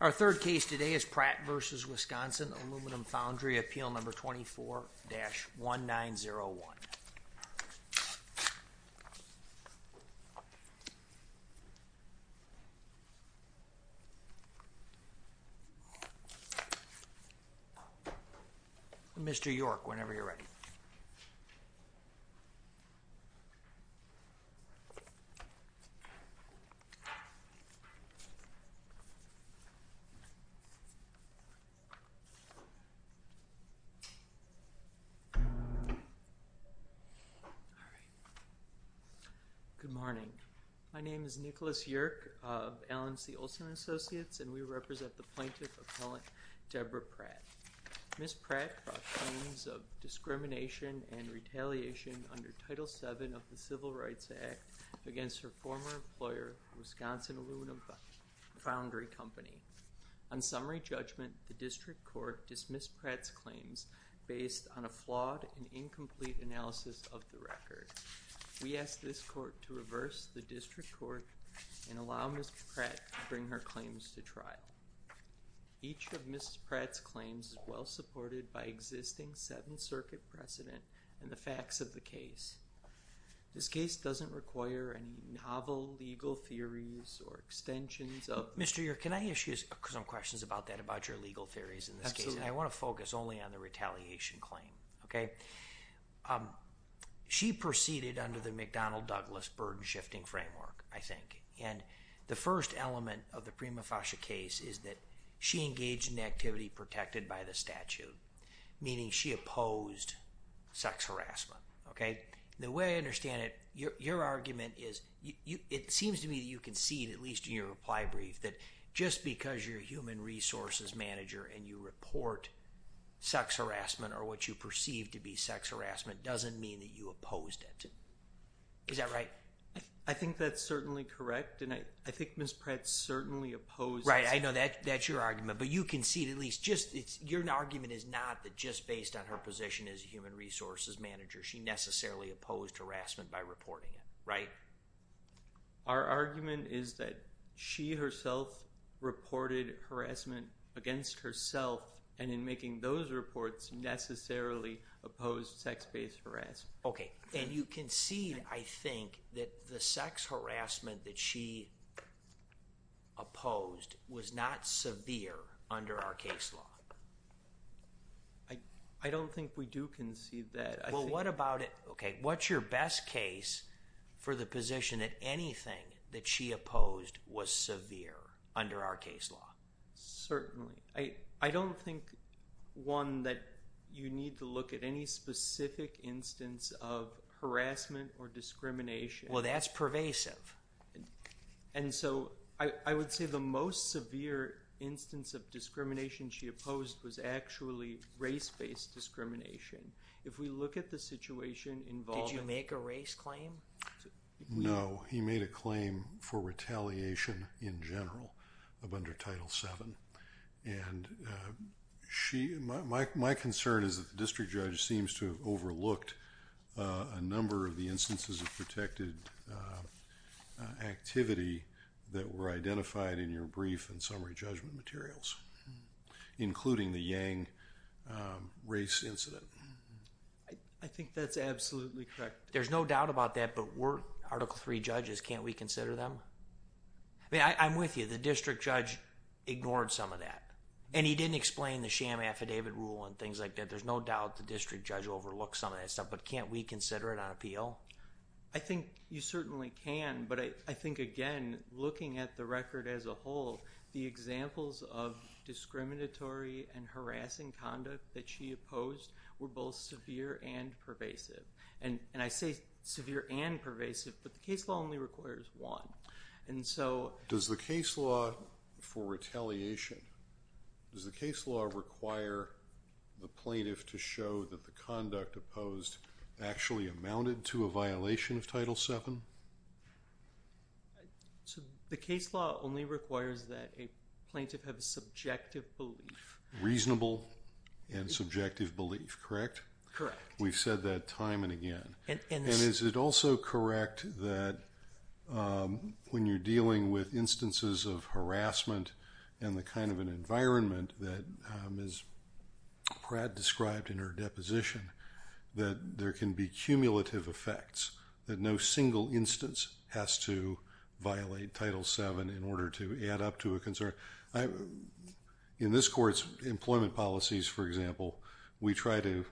Our third case today is Pratt v. Wisconsin Aluminum Foundry, appeal number 24-1901. Mr. York, whenever you're ready. Good morning. My name is Nicholas York of Allen C. Olson and Associates, and we represent the plaintiff appellant Debra Pratt. Ms. Pratt brought claims of discrimination and retaliation under Title VII of the Civil Injury Company. On summary judgment, the district court dismissed Pratt's claims based on a flawed and incomplete analysis of the record. We ask this court to reverse the district court and allow Ms. Pratt to bring her claims to trial. Each of Ms. Pratt's claims is well supported by existing Seventh Circuit precedent and the facts of the case. This case doesn't require a novel legal theories or extensions of- Mr. York, can I ask you some questions about that, about your legal theories in this case? I want to focus only on the retaliation claim, okay? She proceeded under the McDonnell-Douglas burden-shifting framework, I think, and the first element of the prima facie case is that she engaged in activity protected by the statute, meaning she opposed sex harassment, okay? The way I understand it, your argument is, it seems to me that you concede, at least in your reply brief, that just because you're a human resources manager and you report sex harassment or what you perceive to be sex harassment doesn't mean that you opposed it. Is that right? I think that's certainly correct, and I think Ms. Pratt's certainly opposed- Right, I know that's your argument, but you concede at least, just, your argument is not that just based on her position as a human resources manager, she necessarily opposed harassment by reporting it, right? Our argument is that she herself reported harassment against herself, and in making those reports, necessarily opposed sex-based harassment. Okay, and you concede, I think, that the sex harassment that she opposed was not severe under our case law? I don't think we do concede that. Well, what about it, okay, what's your best case for the position that anything that she opposed was severe under our case law? Certainly. I don't think, one, that you need to look at any specific instance of harassment or discrimination. Well, that's pervasive. And so, I would say the most severe instance of discrimination she opposed was actually race-based discrimination. If we look at the situation involving- Did you make a race claim? No, he made a claim for retaliation in general of under Title VII, and she, my concern is that the district judge seems to have overlooked a number of the instances of protected activity that were identified in your brief and summary judgment materials, including the Yang race incident. I think that's absolutely correct. There's no doubt about that, but we're Article III judges, can't we consider them? I mean, I'm with you, the district judge ignored some of that, and he didn't explain the sham affidavit rule and things like that. There's no doubt the district judge overlooked some of that stuff, but can't we consider it on appeal? I think you certainly can, but I think, again, looking at the record as a whole, the examples of discriminatory and harassing conduct that she opposed were both severe and pervasive. And I say severe and pervasive, but the case law only requires one. And so- Does the case law for retaliation, does the case law require the plaintiff to show that the conduct opposed actually amounted to a violation of Title VII? The case law only requires that a plaintiff have a subjective belief. Reasonable and subjective belief, correct? Correct. We've said that time and again. And is it also correct that when you're dealing with instances of harassment and the kind of an environment that Ms. Pratt described in her deposition, that there can be cumulative effects, that no single instance has to violate Title VII in order to add up to a concern? In this court's employment policies, for example, we try to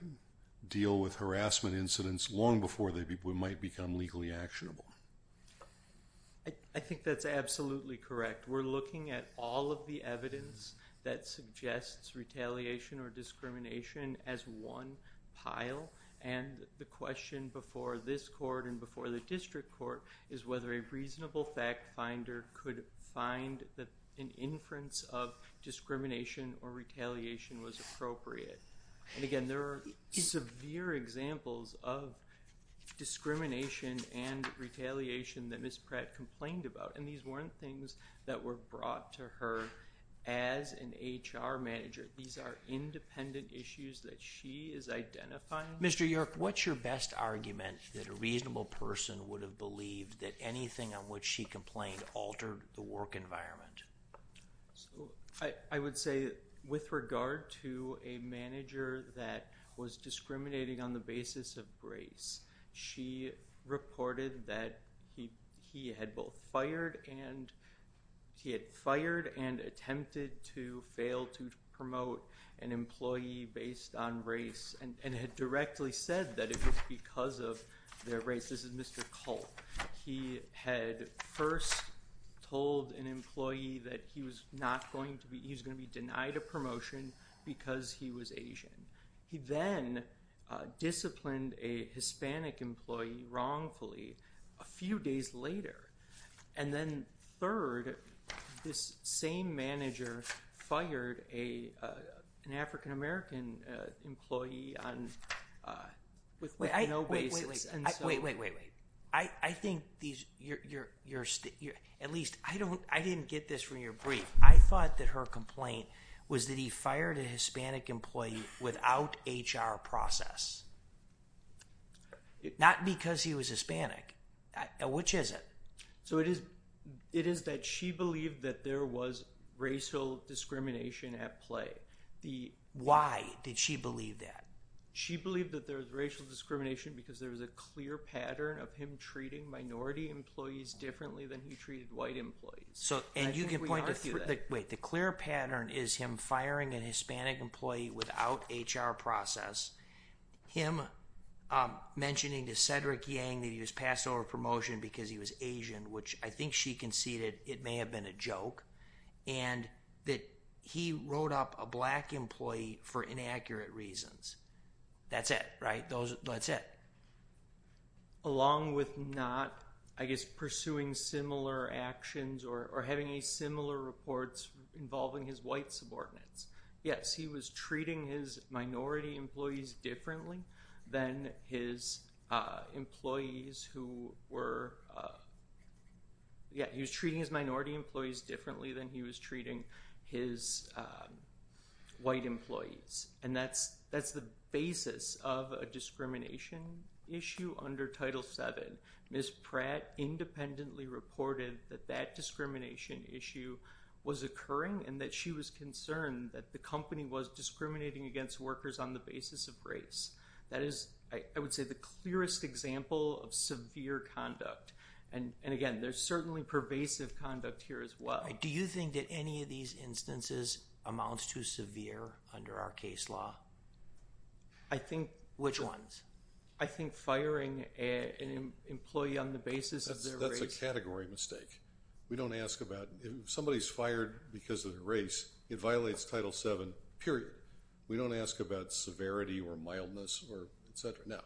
deal with harassment incidents long before they might become legally actionable. I think that's absolutely correct. We're looking at all of the evidence that suggests retaliation or discrimination as one pile, and the question before this court and before the district court is whether a reasonable fact finder could find that an inference of discrimination or retaliation was appropriate. And again, there are severe examples of discrimination and retaliation that Ms. Pratt complained about, and these weren't things that were brought to her as an HR manager. These are independent issues that she is identifying. Mr. York, what's your best argument that a reasonable person would have believed that anything on which she complained altered the work environment? I would say with regard to a manager that was discriminating on the basis of race, she reported that he had both fired and attempted to fail to promote an employee based on race and had directly said that it was because of their race. This is Mr. Culp. He had first told an employee that he was going to be denied a promotion because he was Asian. He then disciplined a Hispanic employee wrongfully a few days later. And then third, this same manager fired an African-American employee with no basis. Wait, wait, wait. I think these, at least, I didn't get this from your brief. I thought that her complaint was that he fired a Hispanic employee without HR process. Not because he was Hispanic. Which is it? So it is that she believed that there was racial discrimination at play. Why did she believe that? She believed that there was racial discrimination because there was a clear pattern of him treating minority employees differently than he treated white employees. So and you can point to, wait, the clear pattern is him firing an Hispanic employee without HR process, him mentioning to Cedric Yang that he was passed over promotion because he was Asian, which I think she conceded it may have been a joke, and that he wrote up a black employee for inaccurate reasons. That's it, right? That's it. Along with not, I guess, pursuing similar actions or having any similar reports involving his white subordinates. Yes, he was treating his minority employees differently than his employees who were, yeah, white employees. And that's the basis of a discrimination issue under Title VII. Ms. Pratt independently reported that that discrimination issue was occurring and that she was concerned that the company was discriminating against workers on the basis of race. That is, I would say, the clearest example of severe conduct. And again, there's certainly pervasive conduct here as well. Do you think that any of these instances amount to severe under our case law? I think... Which ones? I think firing an employee on the basis of their race. That's a category mistake. We don't ask about, if somebody's fired because of their race, it violates Title VII, period. We don't ask about severity or mildness or et cetera. Now,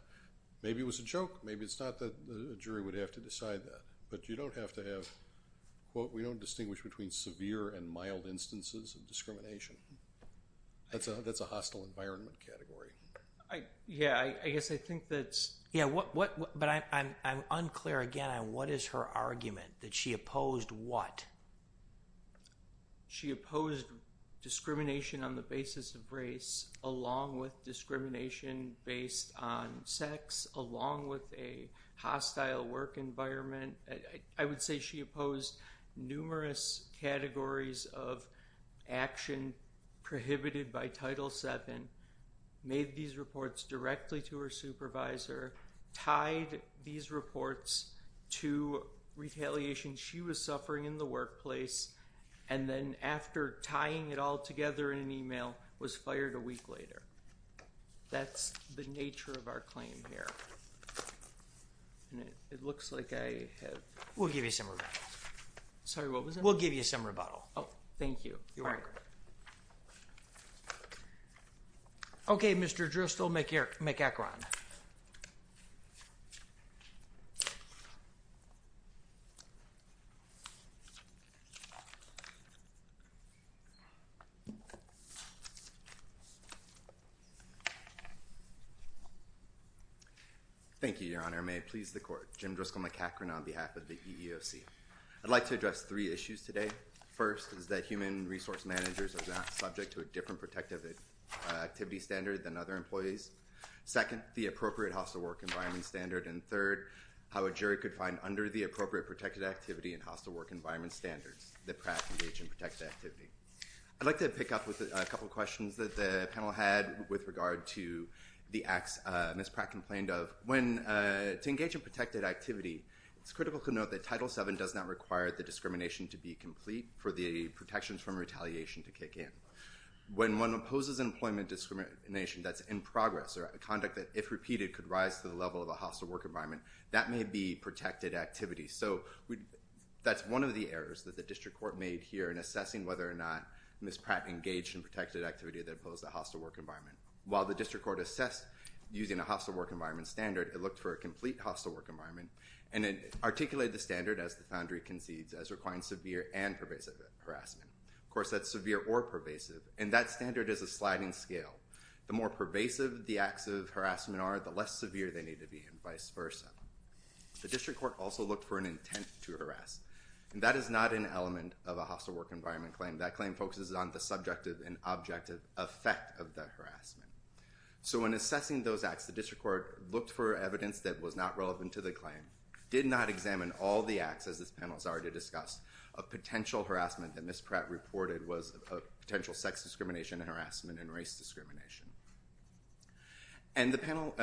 maybe it was a joke, maybe it's not that the jury would have to decide that, but you would have to have, quote, we don't distinguish between severe and mild instances of discrimination. That's a hostile environment category. Yeah, I guess I think that's... Yeah, but I'm unclear again on what is her argument, that she opposed what? She opposed discrimination on the basis of race along with discrimination based on sex along with a hostile work environment. I would say she opposed numerous categories of action prohibited by Title VII, made these reports directly to her supervisor, tied these reports to retaliation she was suffering in the workplace, and then after tying it all together in an email, was fired a week later. That's the nature of our claim here. It looks like I have... We'll give you some rebuttal. Sorry, what was that? We'll give you some rebuttal. Oh, thank you. You're welcome. All right. Okay, Mr. Dristol, McEachron. Thank you, Your Honor. May it please the Court. Jim Dristol, McEachron on behalf of the EEOC. I'd like to address three issues today. First is that human resource managers are not subject to a different protective activity standard than other employees. Second, the appropriate hostile work environment standard. And third, how a jury could find under the appropriate protective activity and hostile work environment standards that Pratt can engage in protective activity. I'd like to pick up with a couple of questions that the panel had with regard to the acts Ms. Pratt complained of, and I'll turn it over to you, Mr. McEachron. Thank you, Your Honor. To engage in protected activity, it's critical to note that Title VII does not require the discrimination to be complete for the protections from retaliation to kick in. When one opposes employment discrimination that's in progress or a conduct that if repeated could rise to the level of a hostile work environment, that may be protected activity. So that's one of the errors that the district court made here in assessing whether or not Ms. Pratt engaged in protected activity that opposed the hostile work environment. While the district court assessed using a hostile work environment standard, it looked for a complete hostile work environment, and it articulated the standard as the foundry concedes as requiring severe and pervasive harassment. Of course, that's severe or pervasive, and that standard is a sliding scale. The more pervasive the acts of harassment are, the less severe they need to be, and vice versa. The district court also looked for an intent to harass, and that is not an element of a hostile work environment claim. That claim focuses on the subjective and objective effect of the harassment. So when assessing those acts, the district court looked for evidence that was not relevant to the claim, did not examine all the acts as this panel has already discussed, a potential harassment that Ms. Pratt reported was a potential sex discrimination and harassment and race discrimination. And the panel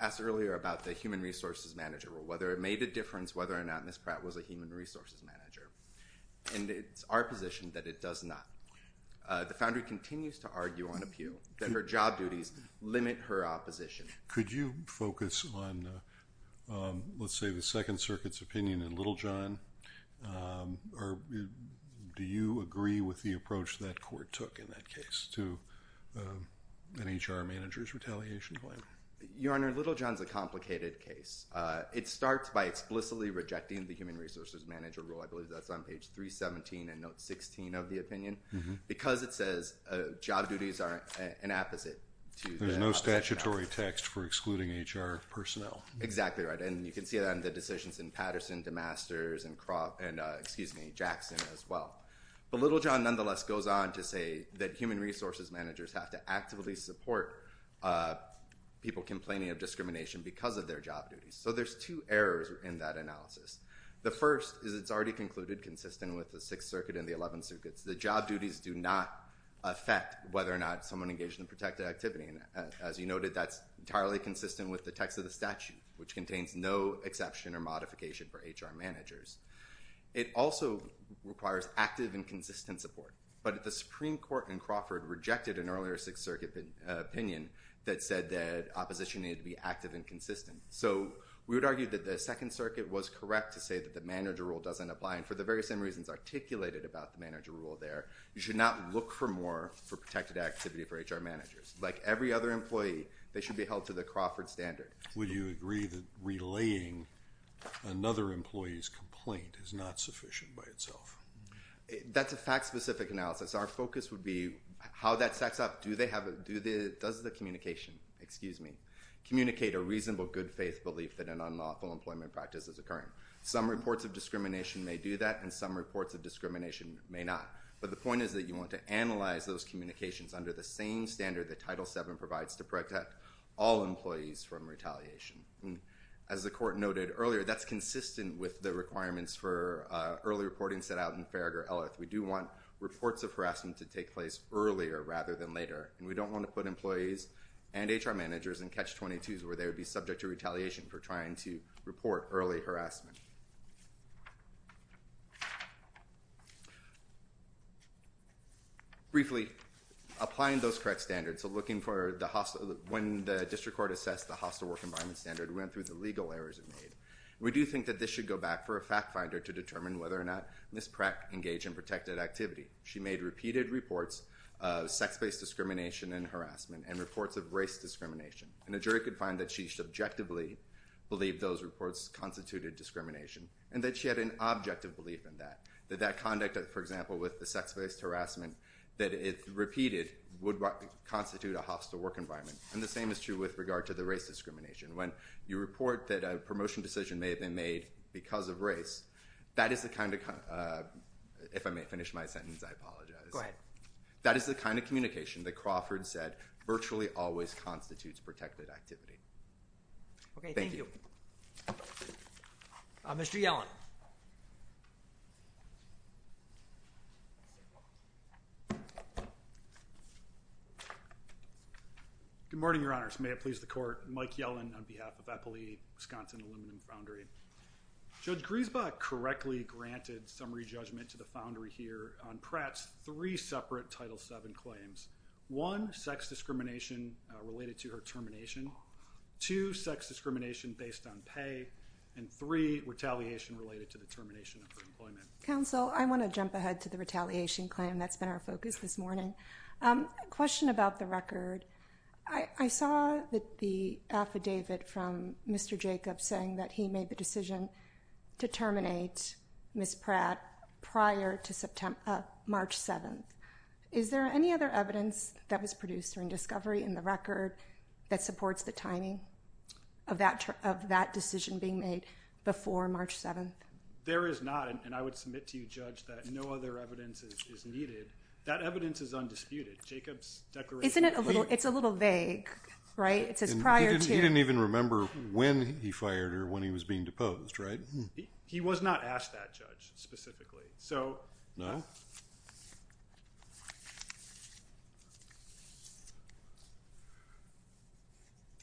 asked earlier about the human resources manager role, whether it made a difference whether or not Ms. Pratt was a human resources manager, and it's our position that it does not. The foundry continues to argue on a pew that her job duties limit her opposition. Could you focus on, let's say, the Second Circuit's opinion in Littlejohn, or do you agree with the approach that court took in that case to an HR manager's retaliation claim? Your Honor, Littlejohn's a complicated case. It starts by explicitly rejecting the human resources manager role. I believe that's on page 317 and note 16 of the opinion. Because it says job duties are an apposite to the opposition. There's no statutory text for excluding HR personnel. Exactly right. And you can see that in the decisions in Patterson, DeMasters, and Cropp, and excuse me, Jackson as well. But Littlejohn nonetheless goes on to say that human resources managers have to actively support people complaining of discrimination because of their job duties. So there's two errors in that analysis. The first is it's already concluded, consistent with the Sixth Circuit and the Eleventh Circuit, that job duties do not affect whether or not someone engaged in a protected activity. As you noted, that's entirely consistent with the text of the statute, which contains no exception or modification for HR managers. It also requires active and consistent support. But the Supreme Court in Crawford rejected an earlier Sixth Circuit opinion that said that opposition needed to be active and consistent. So we would argue that the Second Circuit was correct to say that the manager rule doesn't apply. And for the very same reasons articulated about the manager rule there, you should not look for more for protected activity for HR managers. Like every other employee, they should be held to the Crawford standard. Would you agree that relaying another employee's complaint is not sufficient by itself? That's a fact-specific analysis. Our focus would be how that stacks up. Does the communication, excuse me, communicate a reasonable good faith belief that an unlawful employment practice is occurring? Some reports of discrimination may do that, and some reports of discrimination may not. But the point is that you want to analyze those communications under the same standard that Title VII provides to protect all employees from retaliation. As the Court noted earlier, that's consistent with the requirements for early reporting set out in Farragher-Ellis. We do want reports of harassment to take place earlier rather than later, and we don't want to put employees and HR managers in Catch-22s where they would be subject to retaliation for trying to report early harassment. Briefly, applying those correct standards, so looking for the hostile—when the District Court assessed the hostile work environment standard, we went through the legal errors it made. We do think that this should go back for a fact finder to determine whether or not Ms. Crack engaged in protected activity. She made repeated reports of sex-based discrimination and harassment, and reports of race discrimination. And a jury could find that she subjectively believed those reports constituted discrimination, and that she had an objective belief in that, that that conduct, for example, with the sex-based harassment that it repeated would constitute a hostile work environment. And the same is true with regard to the race discrimination. When you report that a promotion decision may have been made because of race, that is the kind of—if I may finish my sentence, I apologize. That is the kind of communication that Crawford said virtually always constitutes protected activity. Okay. Thank you. Thank you. Mr. Yellen. Good morning, Your Honors. May it please the Court. Mike Yellen on behalf of Eppley Wisconsin Aluminum Foundry. Judge Griesbach correctly granted summary judgment to the foundry here on Pratt's three separate Title VII claims—one, sex discrimination related to her termination, two, sex discrimination based on pay, and three, retaliation related to the termination of her employment. Counsel, I want to jump ahead to the retaliation claim. That's been our focus this morning. Question about the record. I saw the affidavit from Mr. Jacobs saying that he made the decision to terminate Ms. Pratt prior to March 7th. Is there any other evidence that was produced during discovery in the record that supports the timing of that decision being made before March 7th? There is not, and I would submit to you, Judge, that no other evidence is needed. That evidence is undisputed. Jacobs' declaration— Isn't it a little—it's a little vague, right? It says prior to— He didn't even remember when he fired her, when he was being deposed, right? He was not asked that, Judge, specifically. So— No?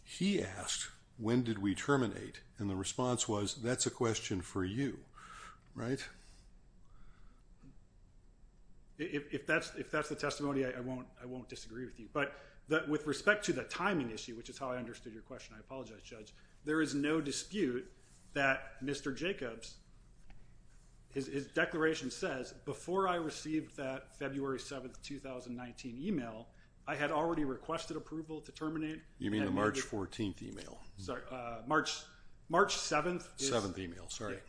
He asked, when did we terminate, and the response was, that's a question for you, right? If that's the testimony, I won't disagree with you, but with respect to the timing issue, which is how I understood your question, I apologize, Judge, there is no dispute that Mr. Jacobs, his declaration says, before I received that February 7th, 2019 email, I had already requested approval to terminate— You mean the March 14th email? Sorry, March 7th is— 7th email, sorry.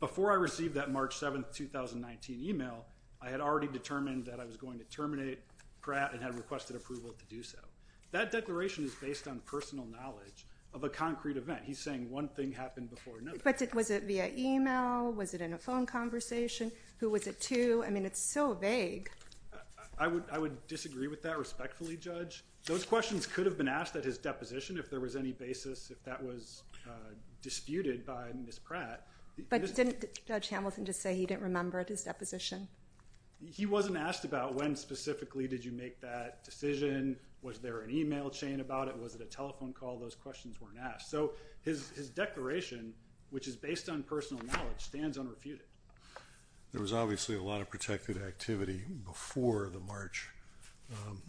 Before I received that March 7th, 2019 email, I had already determined that I was going to terminate Pratt and had requested approval to do so. That declaration is based on personal knowledge of a concrete event. He's saying one thing happened before another. But was it via email? Was it in a phone conversation? Who was it to? I mean, it's so vague. I would disagree with that respectfully, Judge. Those questions could have been asked at his deposition if there was any basis, if that was disputed by Ms. Pratt. But didn't Judge Hamilton just say he didn't remember at his deposition? He wasn't asked about when specifically did you make that decision? Was there an email chain about it? Was it a telephone call? Those questions weren't asked. So his declaration, which is based on personal knowledge, stands unrefuted. There was obviously a lot of protected activity before the March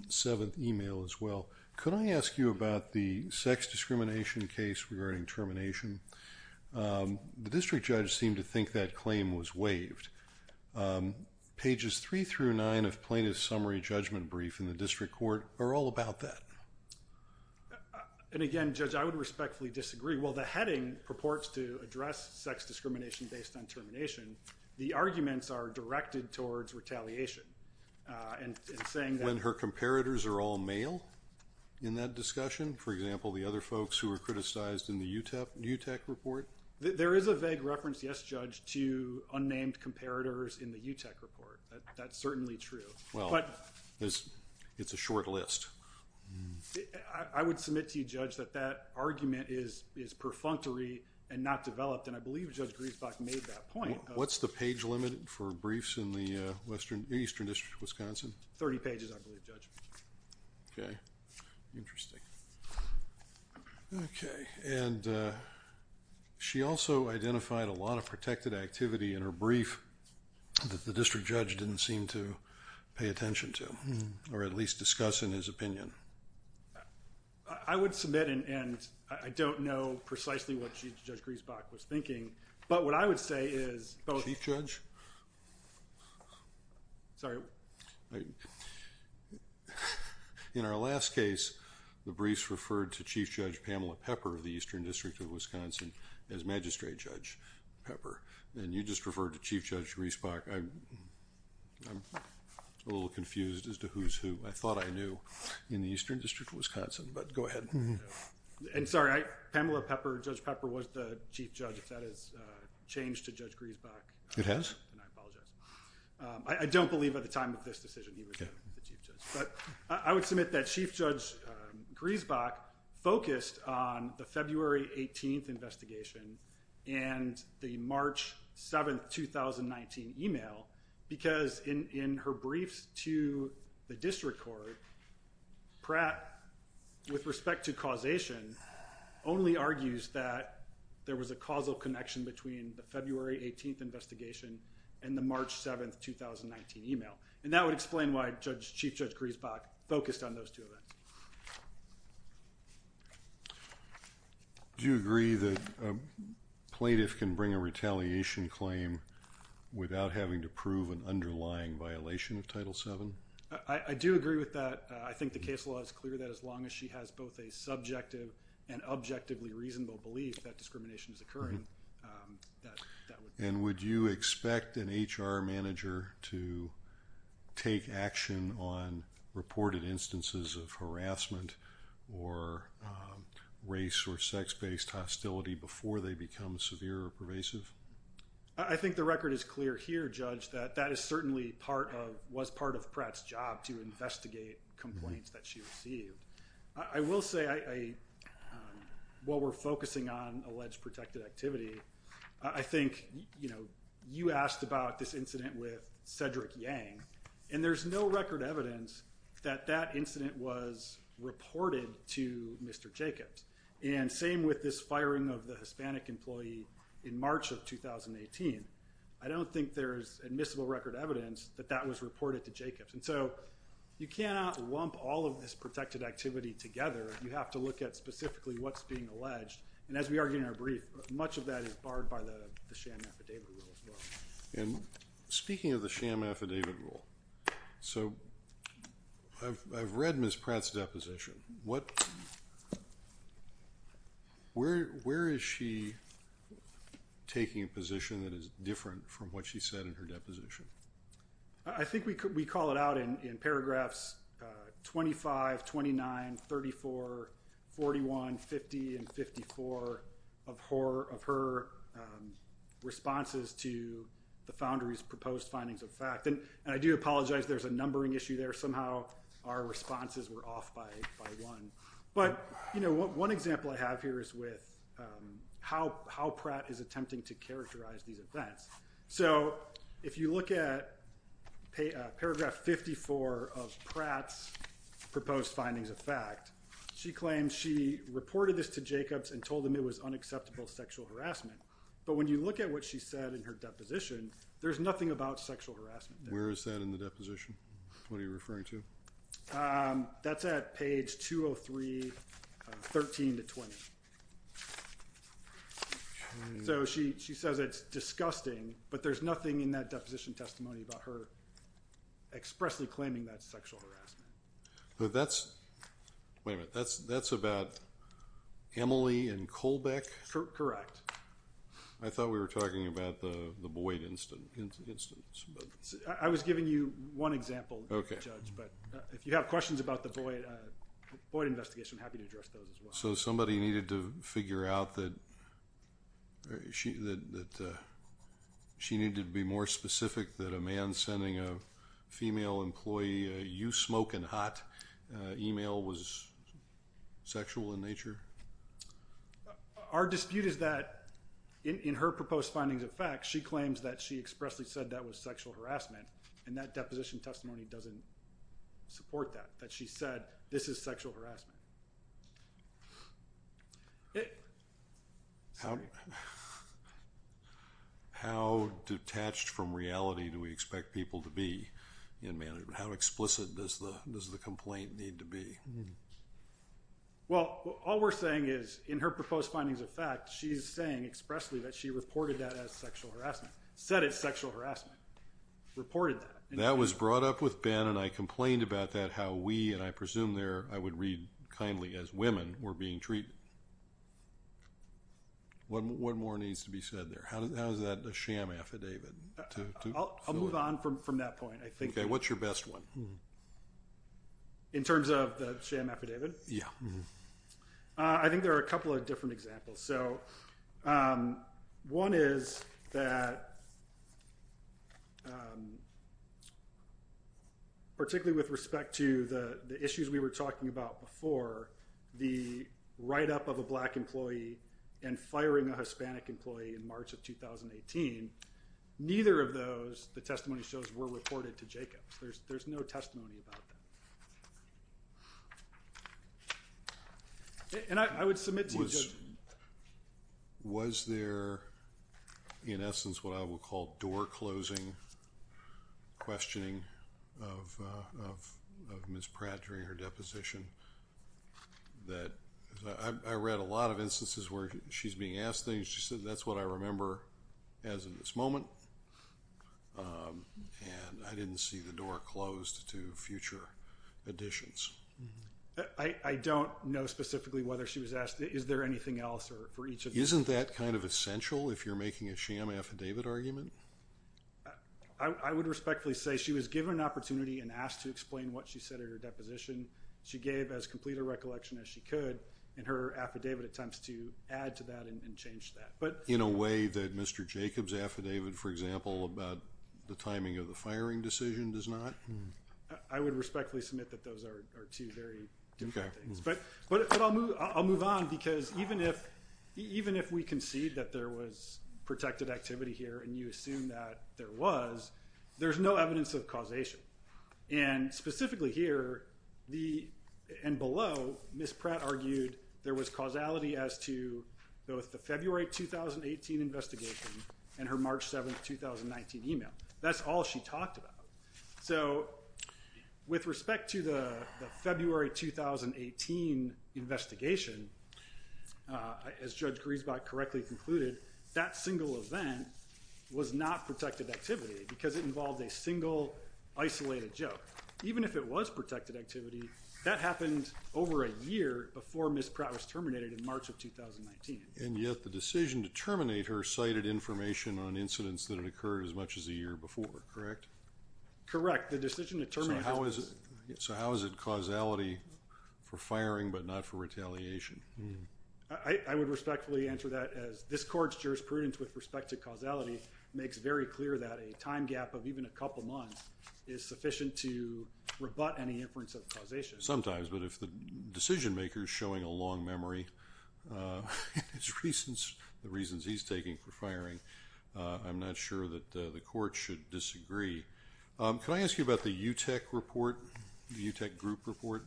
7th email as well. Could I ask you about the sex discrimination case regarding termination? The district judge seemed to think that claim was waived. Pages 3 through 9 of Plaintiff's Summary Judgment Brief in the district court are all about that. And again, Judge, I would respectfully disagree. While the heading purports to address sex discrimination based on termination, the arguments are directed towards retaliation. When her comparators are all male in that discussion? For example, the other folks who were criticized in the UTEC report? There is a vague reference, yes, Judge, to unnamed comparators in the UTEC report. That's certainly true. It's a short list. I would submit to you, Judge, that that argument is perfunctory and not developed, and I believe Judge Griesbach made that point. What's the page limit for briefs in the Eastern District of Wisconsin? Thirty pages, I believe, Judge. Okay. Interesting. Okay. And she also identified a lot of protected activity in her brief that the district judge didn't seem to pay attention to, or at least discuss in his opinion. I would submit, and I don't know precisely what Judge Griesbach was thinking, but what I would say is... Sorry. In our last case, the briefs referred to Chief Judge Pamela Pepper of the Eastern District of Wisconsin as Magistrate Judge Pepper, and you just referred to Chief Judge Griesbach. I'm a little confused as to who's who. I thought I knew in the Eastern District of Wisconsin, but go ahead. I'm sorry. Pamela Pepper, Judge Pepper, was the Chief Judge, if that has changed to Judge Griesbach. It has. I apologize. I don't believe at the time of this decision he was the Chief Judge, but I would submit that Chief Judge Griesbach focused on the February 18th investigation and the March 7th, 2019 email, because in her briefs to the district court, Pratt, with respect to causation, only argues that there was a causal connection between the February 18th investigation and the March 7th, 2019 email, and that would explain why Chief Judge Griesbach focused on those two events. Do you agree that a plaintiff can bring a retaliation claim without having to prove an underlying violation of Title VII? I do agree with that. I think the case law is clear that as long as she has both a subjective and objectively reasonable belief that discrimination is occurring, that would be fine. And would you expect an HR manager to take action on reported instances of harassment or race or sex-based hostility before they become severe or pervasive? I think the record is clear here, Judge, that that is certainly part of, was part of Pratt's job to investigate complaints that she received. I will say, while we're focusing on alleged protected activity, I think, you know, you asked about this incident with Cedric Yang, and there's no record evidence that that incident was reported to Mr. Jacobs. And same with this firing of the Hispanic employee in March of 2018. I don't think there's admissible record evidence that that was reported to Jacobs. And so, you cannot lump all of this protected activity together. You have to look at specifically what's being alleged, and as we argued in our brief, much of that is barred by the sham affidavit rule as well. And speaking of the sham affidavit rule, so I've read Ms. Pratt's deposition. What, where is she taking a position that is different from what she said in her deposition? I think we could, we call it out in paragraphs 25, 29, 34, 41, 50, and 54 of her responses to the Foundry's proposed findings of fact, and I do apologize, there's a numbering issue there. Somehow, our responses were off by one, but, you know, one example I have here is with how Pratt is attempting to characterize these events. So, if you look at paragraph 54 of Pratt's proposed findings of fact, she claims she reported this to Jacobs and told them it was unacceptable sexual harassment, but when you look at what she said in her deposition, there's nothing about sexual harassment there. Where is that in the deposition? What are you referring to? That's at page 203, 13 to 20. So, she says it's disgusting, but there's nothing in that deposition testimony about her expressly claiming that's sexual harassment. But that's, wait a minute, that's about Emily and Kohlbeck? Correct. I thought we were talking about the Boyd instance. I was giving you one example, Judge, but if you have questions about the Boyd investigation, I'm happy to address those as well. So, somebody needed to figure out that she needed to be more specific that a man sending a female employee a you-smoking-hot email was sexual in nature? Our dispute is that in her proposed findings of fact, she claims that she expressly said that was sexual harassment, and that deposition testimony doesn't support that, that she said this is sexual harassment. How detached from reality do we expect people to be in management? How explicit does the complaint need to be? Well, all we're saying is, in her proposed findings of fact, she's saying expressly that she reported that as sexual harassment, said it's sexual harassment, reported that. That was brought up with Ben, and I complained about that, how we, and I presume there, I would read kindly as women, were being treated. What more needs to be said there? How is that a sham affidavit? I'll move on from that point. What's your best one? In terms of the sham affidavit? I think there are a couple of different examples. So, one is that, particularly with respect to the issues we were talking about before, the write-up of a black employee and firing a Hispanic employee in March of 2018, neither of those, the testimony shows, were reported to Jacobs. There's no testimony about that. And I would submit to you, Judge. Was there, in essence, what I would call door-closing questioning of Ms. Pratt during her deposition, that I read a lot of instances where she's being asked things, she said, that's what I remember as of this moment, and I didn't see the door closed to future additions. I don't know specifically whether she was asked, is there anything else for each of you? Isn't that kind of essential if you're making a sham affidavit argument? I would respectfully say she was given an opportunity and asked to explain what she said at her deposition. She gave as complete a recollection as she could, and her affidavit attempts to add to that and change that. But in a way that Mr. Jacobs' affidavit, for example, about the timing of the firing decision does not? I would respectfully submit that those are two very different things. But I'll move on, because even if we concede that there was protected activity here, and you assume that there was, there's no evidence of causation. And specifically here, and below, Ms. Pratt argued there was causality as to both the February 2018 investigation and her March 7, 2019 email. That's all she talked about. So, with respect to the February 2018 investigation, as Judge Griesbach correctly concluded, that single event was not protected activity, because it involved a single, isolated joke. Even if it was protected activity, that happened over a year before Ms. Pratt was terminated in March of 2019. And yet, the decision to terminate her cited information on incidents that had occurred as much as a year before, correct? The decision to terminate Ms. Pratt. So how is it causality for firing, but not for retaliation? I would respectfully answer that as this Court's jurisprudence with respect to causality makes very clear that a time gap of even a couple months is sufficient to rebut any inference of causation. Sometimes, but if the decision maker is showing a long memory, and the reasons he's taking for firing, I'm not sure that the Court should disagree. Can I ask you about the UTEC report? The UTEC group report?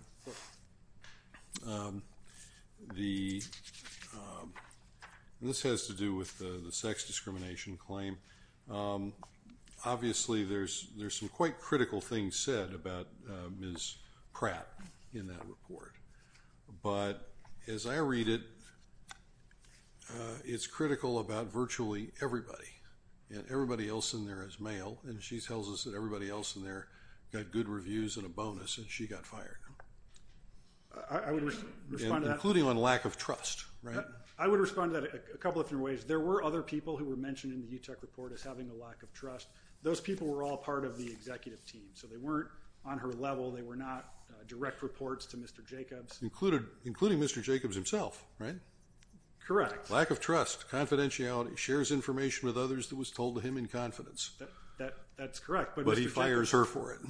This has to do with the sex discrimination claim. Obviously, there's some quite critical things said about Ms. Pratt in that report. But as I read it, it's critical about virtually everybody. Everybody else in there is male, and she tells us that everybody else in there got good reviews and a bonus, and she got fired, including on lack of trust, right? I would respond to that a couple of different ways. There were other people who were mentioned in the UTEC report as having a lack of trust. Those people were all part of the executive team, so they weren't on her level. They were not direct reports to Mr. Jacobs. Including Mr. Jacobs himself, right? Correct. Lack of trust, confidentiality, shares information with others that was told to him in confidence. That's correct. But he fires her for it.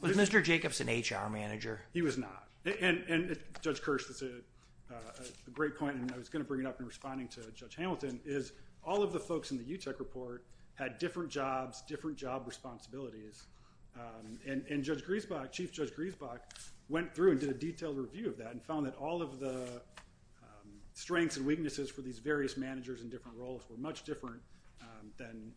Was Mr. Jacobs an HR manager? He was not. And Judge Kirsch, that's a great point, and I was going to bring it up in responding to Judge Hamilton, is all of the folks in the UTEC report had different jobs, different job responsibilities. And Judge Griesbach, Chief Judge Griesbach, went through and did a detailed review of that and found that all of the strengths and weaknesses for these various managers in different roles were much different than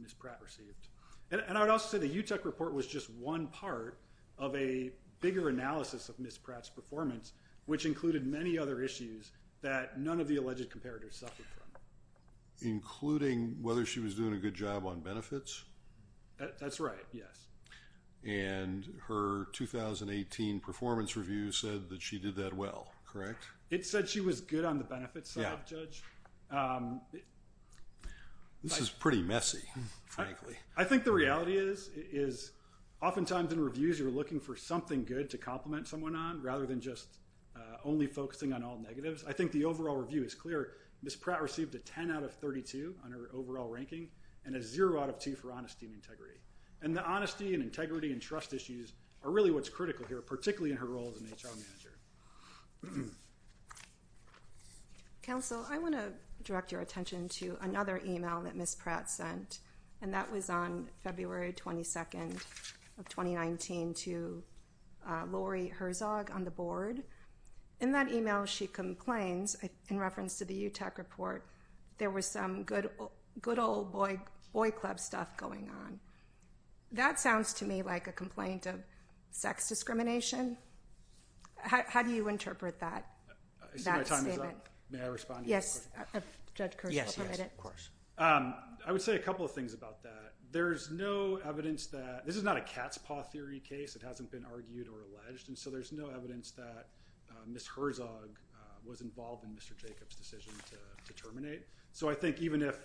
Ms. Pratt received. And I would also say the UTEC report was just one part of a bigger analysis of Ms. Pratt's performance, which included many other issues that none of the alleged comparators suffered from. Including whether she was doing a good job on benefits? That's right. Yes. And her 2018 performance review said that she did that well, correct? It said she was good on the benefits side, Judge. This is pretty messy, frankly. I think the reality is oftentimes in reviews you're looking for something good to compliment someone on rather than just only focusing on all negatives. I think the overall review is clear. Ms. Pratt received a 10 out of 32 on her overall ranking and a 0 out of 2 for honesty and integrity. And the honesty and integrity and trust issues are really what's critical here, particularly in her role as an HR manager. Counsel, I want to direct your attention to another email that Ms. Pratt sent. And that was on February 22nd of 2019 to Lori Herzog on the board. In that email she complains, in reference to the UTEC report, there was some good old boy club stuff going on. That sounds to me like a complaint of sex discrimination. How do you interpret that statement? I see my time is up. May I respond to that? Yes. Judge Kerr, you're permitted. Yes, yes, of course. I would say a couple of things about that. There's no evidence that, this is not a cat's paw theory case. It hasn't been argued or alleged. And so there's no evidence that Ms. Herzog was involved in Mr. Jacobs' decision to terminate. So I think even if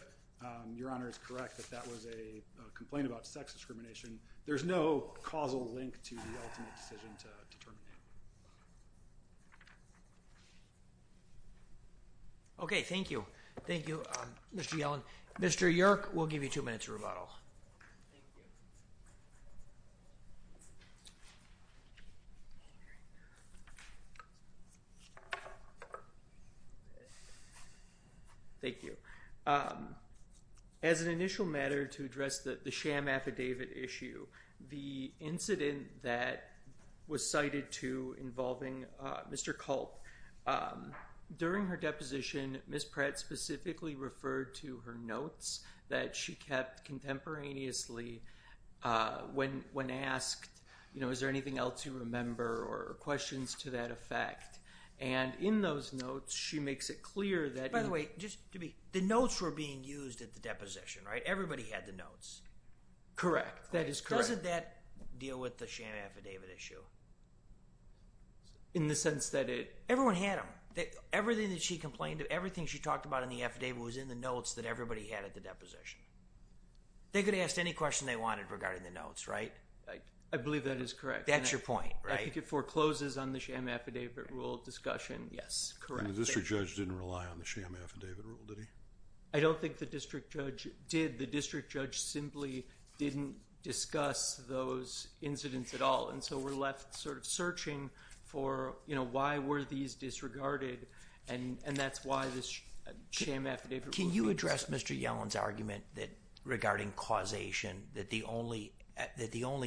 Your Honor is correct that that was a complaint about sex discrimination, there's no causal link to the ultimate decision to terminate. Okay, thank you. Thank you, Mr. Yellen. Mr. Yerk, we'll give you two minutes to rebuttal. Thank you. As an initial matter to address the sham affidavit issue, the incident that was cited to involving Mr. Culp, during her deposition, Ms. Pratt specifically referred to her notes that she kept contemporaneously when asked, you know, is there anything else you remember or questions to that effect? And in those notes, she makes it clear that By the way, just to be, the notes were being used at the deposition, right? Everybody had the notes. Correct. That is correct. Doesn't that deal with the sham affidavit issue? In the sense that it Everyone had them. Everything that she complained, everything she talked about in the affidavit was in the notes that everybody had at the deposition. They could ask any question they wanted regarding the notes, right? I believe that is correct. That's your point, right? I think it forecloses on the sham affidavit rule discussion. Yes, correct. And the district judge didn't rely on the sham affidavit rule, did he? I don't think the district judge did. The district judge simply didn't discuss those incidents at all. And so, we're left sort of searching for, you know, why were these disregarded? And that's why this sham affidavit rule Did you address Mr. Yellen's argument that regarding causation, that the only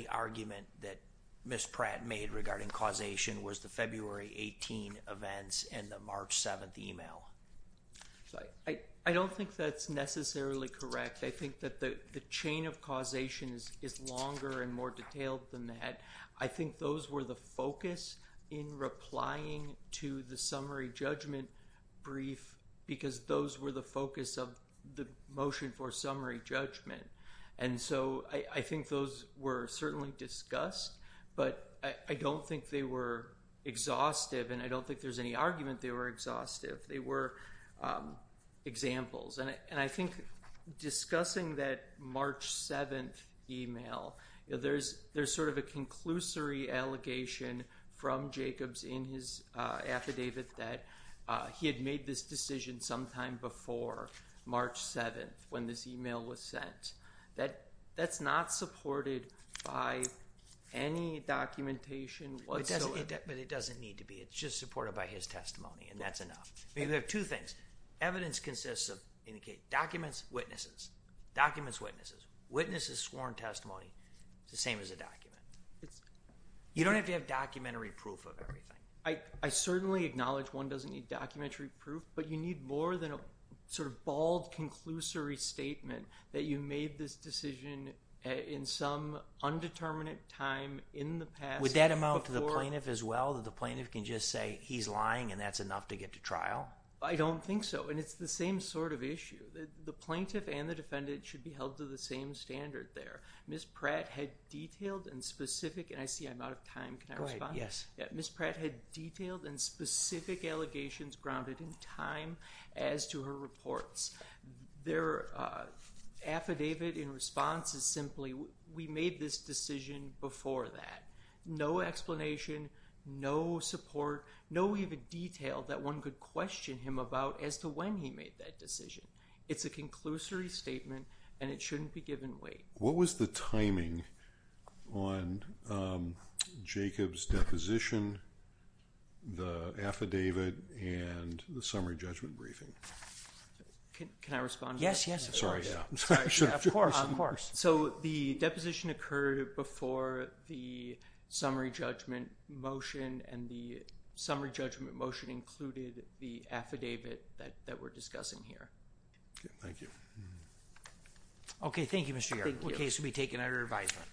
argument that Ms. Pratt made regarding causation was the February 18 events and the March 7th email? I don't think that's necessarily correct. I think that the chain of causation is longer and more detailed than that. I think those were the focus in replying to the summary judgment brief because those were the focus of the motion for summary judgment. And so, I think those were certainly discussed, but I don't think they were exhaustive and I don't think there's any argument they were exhaustive. They were examples. And I think discussing that March 7th email, there's sort of a conclusory allegation from Jacobs in his affidavit that he had made this decision sometime before March 7th when this email was sent. That's not supported by any documentation whatsoever. But it doesn't need to be. It's just supported by his testimony and that's enough. We have two things. Evidence consists of documents, witnesses. Documents, witnesses. Witnesses sworn testimony is the same as a document. You don't have to have documentary proof of everything. I certainly acknowledge one doesn't need documentary proof, but you need more than a sort of bald conclusory statement that you made this decision in some undetermined time in the past. Would that amount to the plaintiff as well? That the plaintiff can just say he's lying and that's enough to get to trial? I don't think so. And it's the same sort of issue. The plaintiff and the defendant should be held to the same standard there. Ms. Pratt had detailed and specific, and I see I'm out of time, can I respond? Go ahead, yes. Ms. Pratt had detailed and specific allegations grounded in time as to her reports. Their affidavit in response is simply we made this decision before that. No explanation, no support, no even detail that one could question him about as to when he made that decision. It's a conclusory statement and it shouldn't be given weight. What was the timing on Jacob's deposition, the affidavit, and the summary judgment briefing? Can I respond? Yes, yes, of course. Sorry, yeah. Of course, of course. So the deposition occurred before the summary judgment motion, and the summary judgment motion included the affidavit that we're discussing here. Okay, thank you. Okay, thank you, Mr. Yarbrough. The case will be taken under advisement.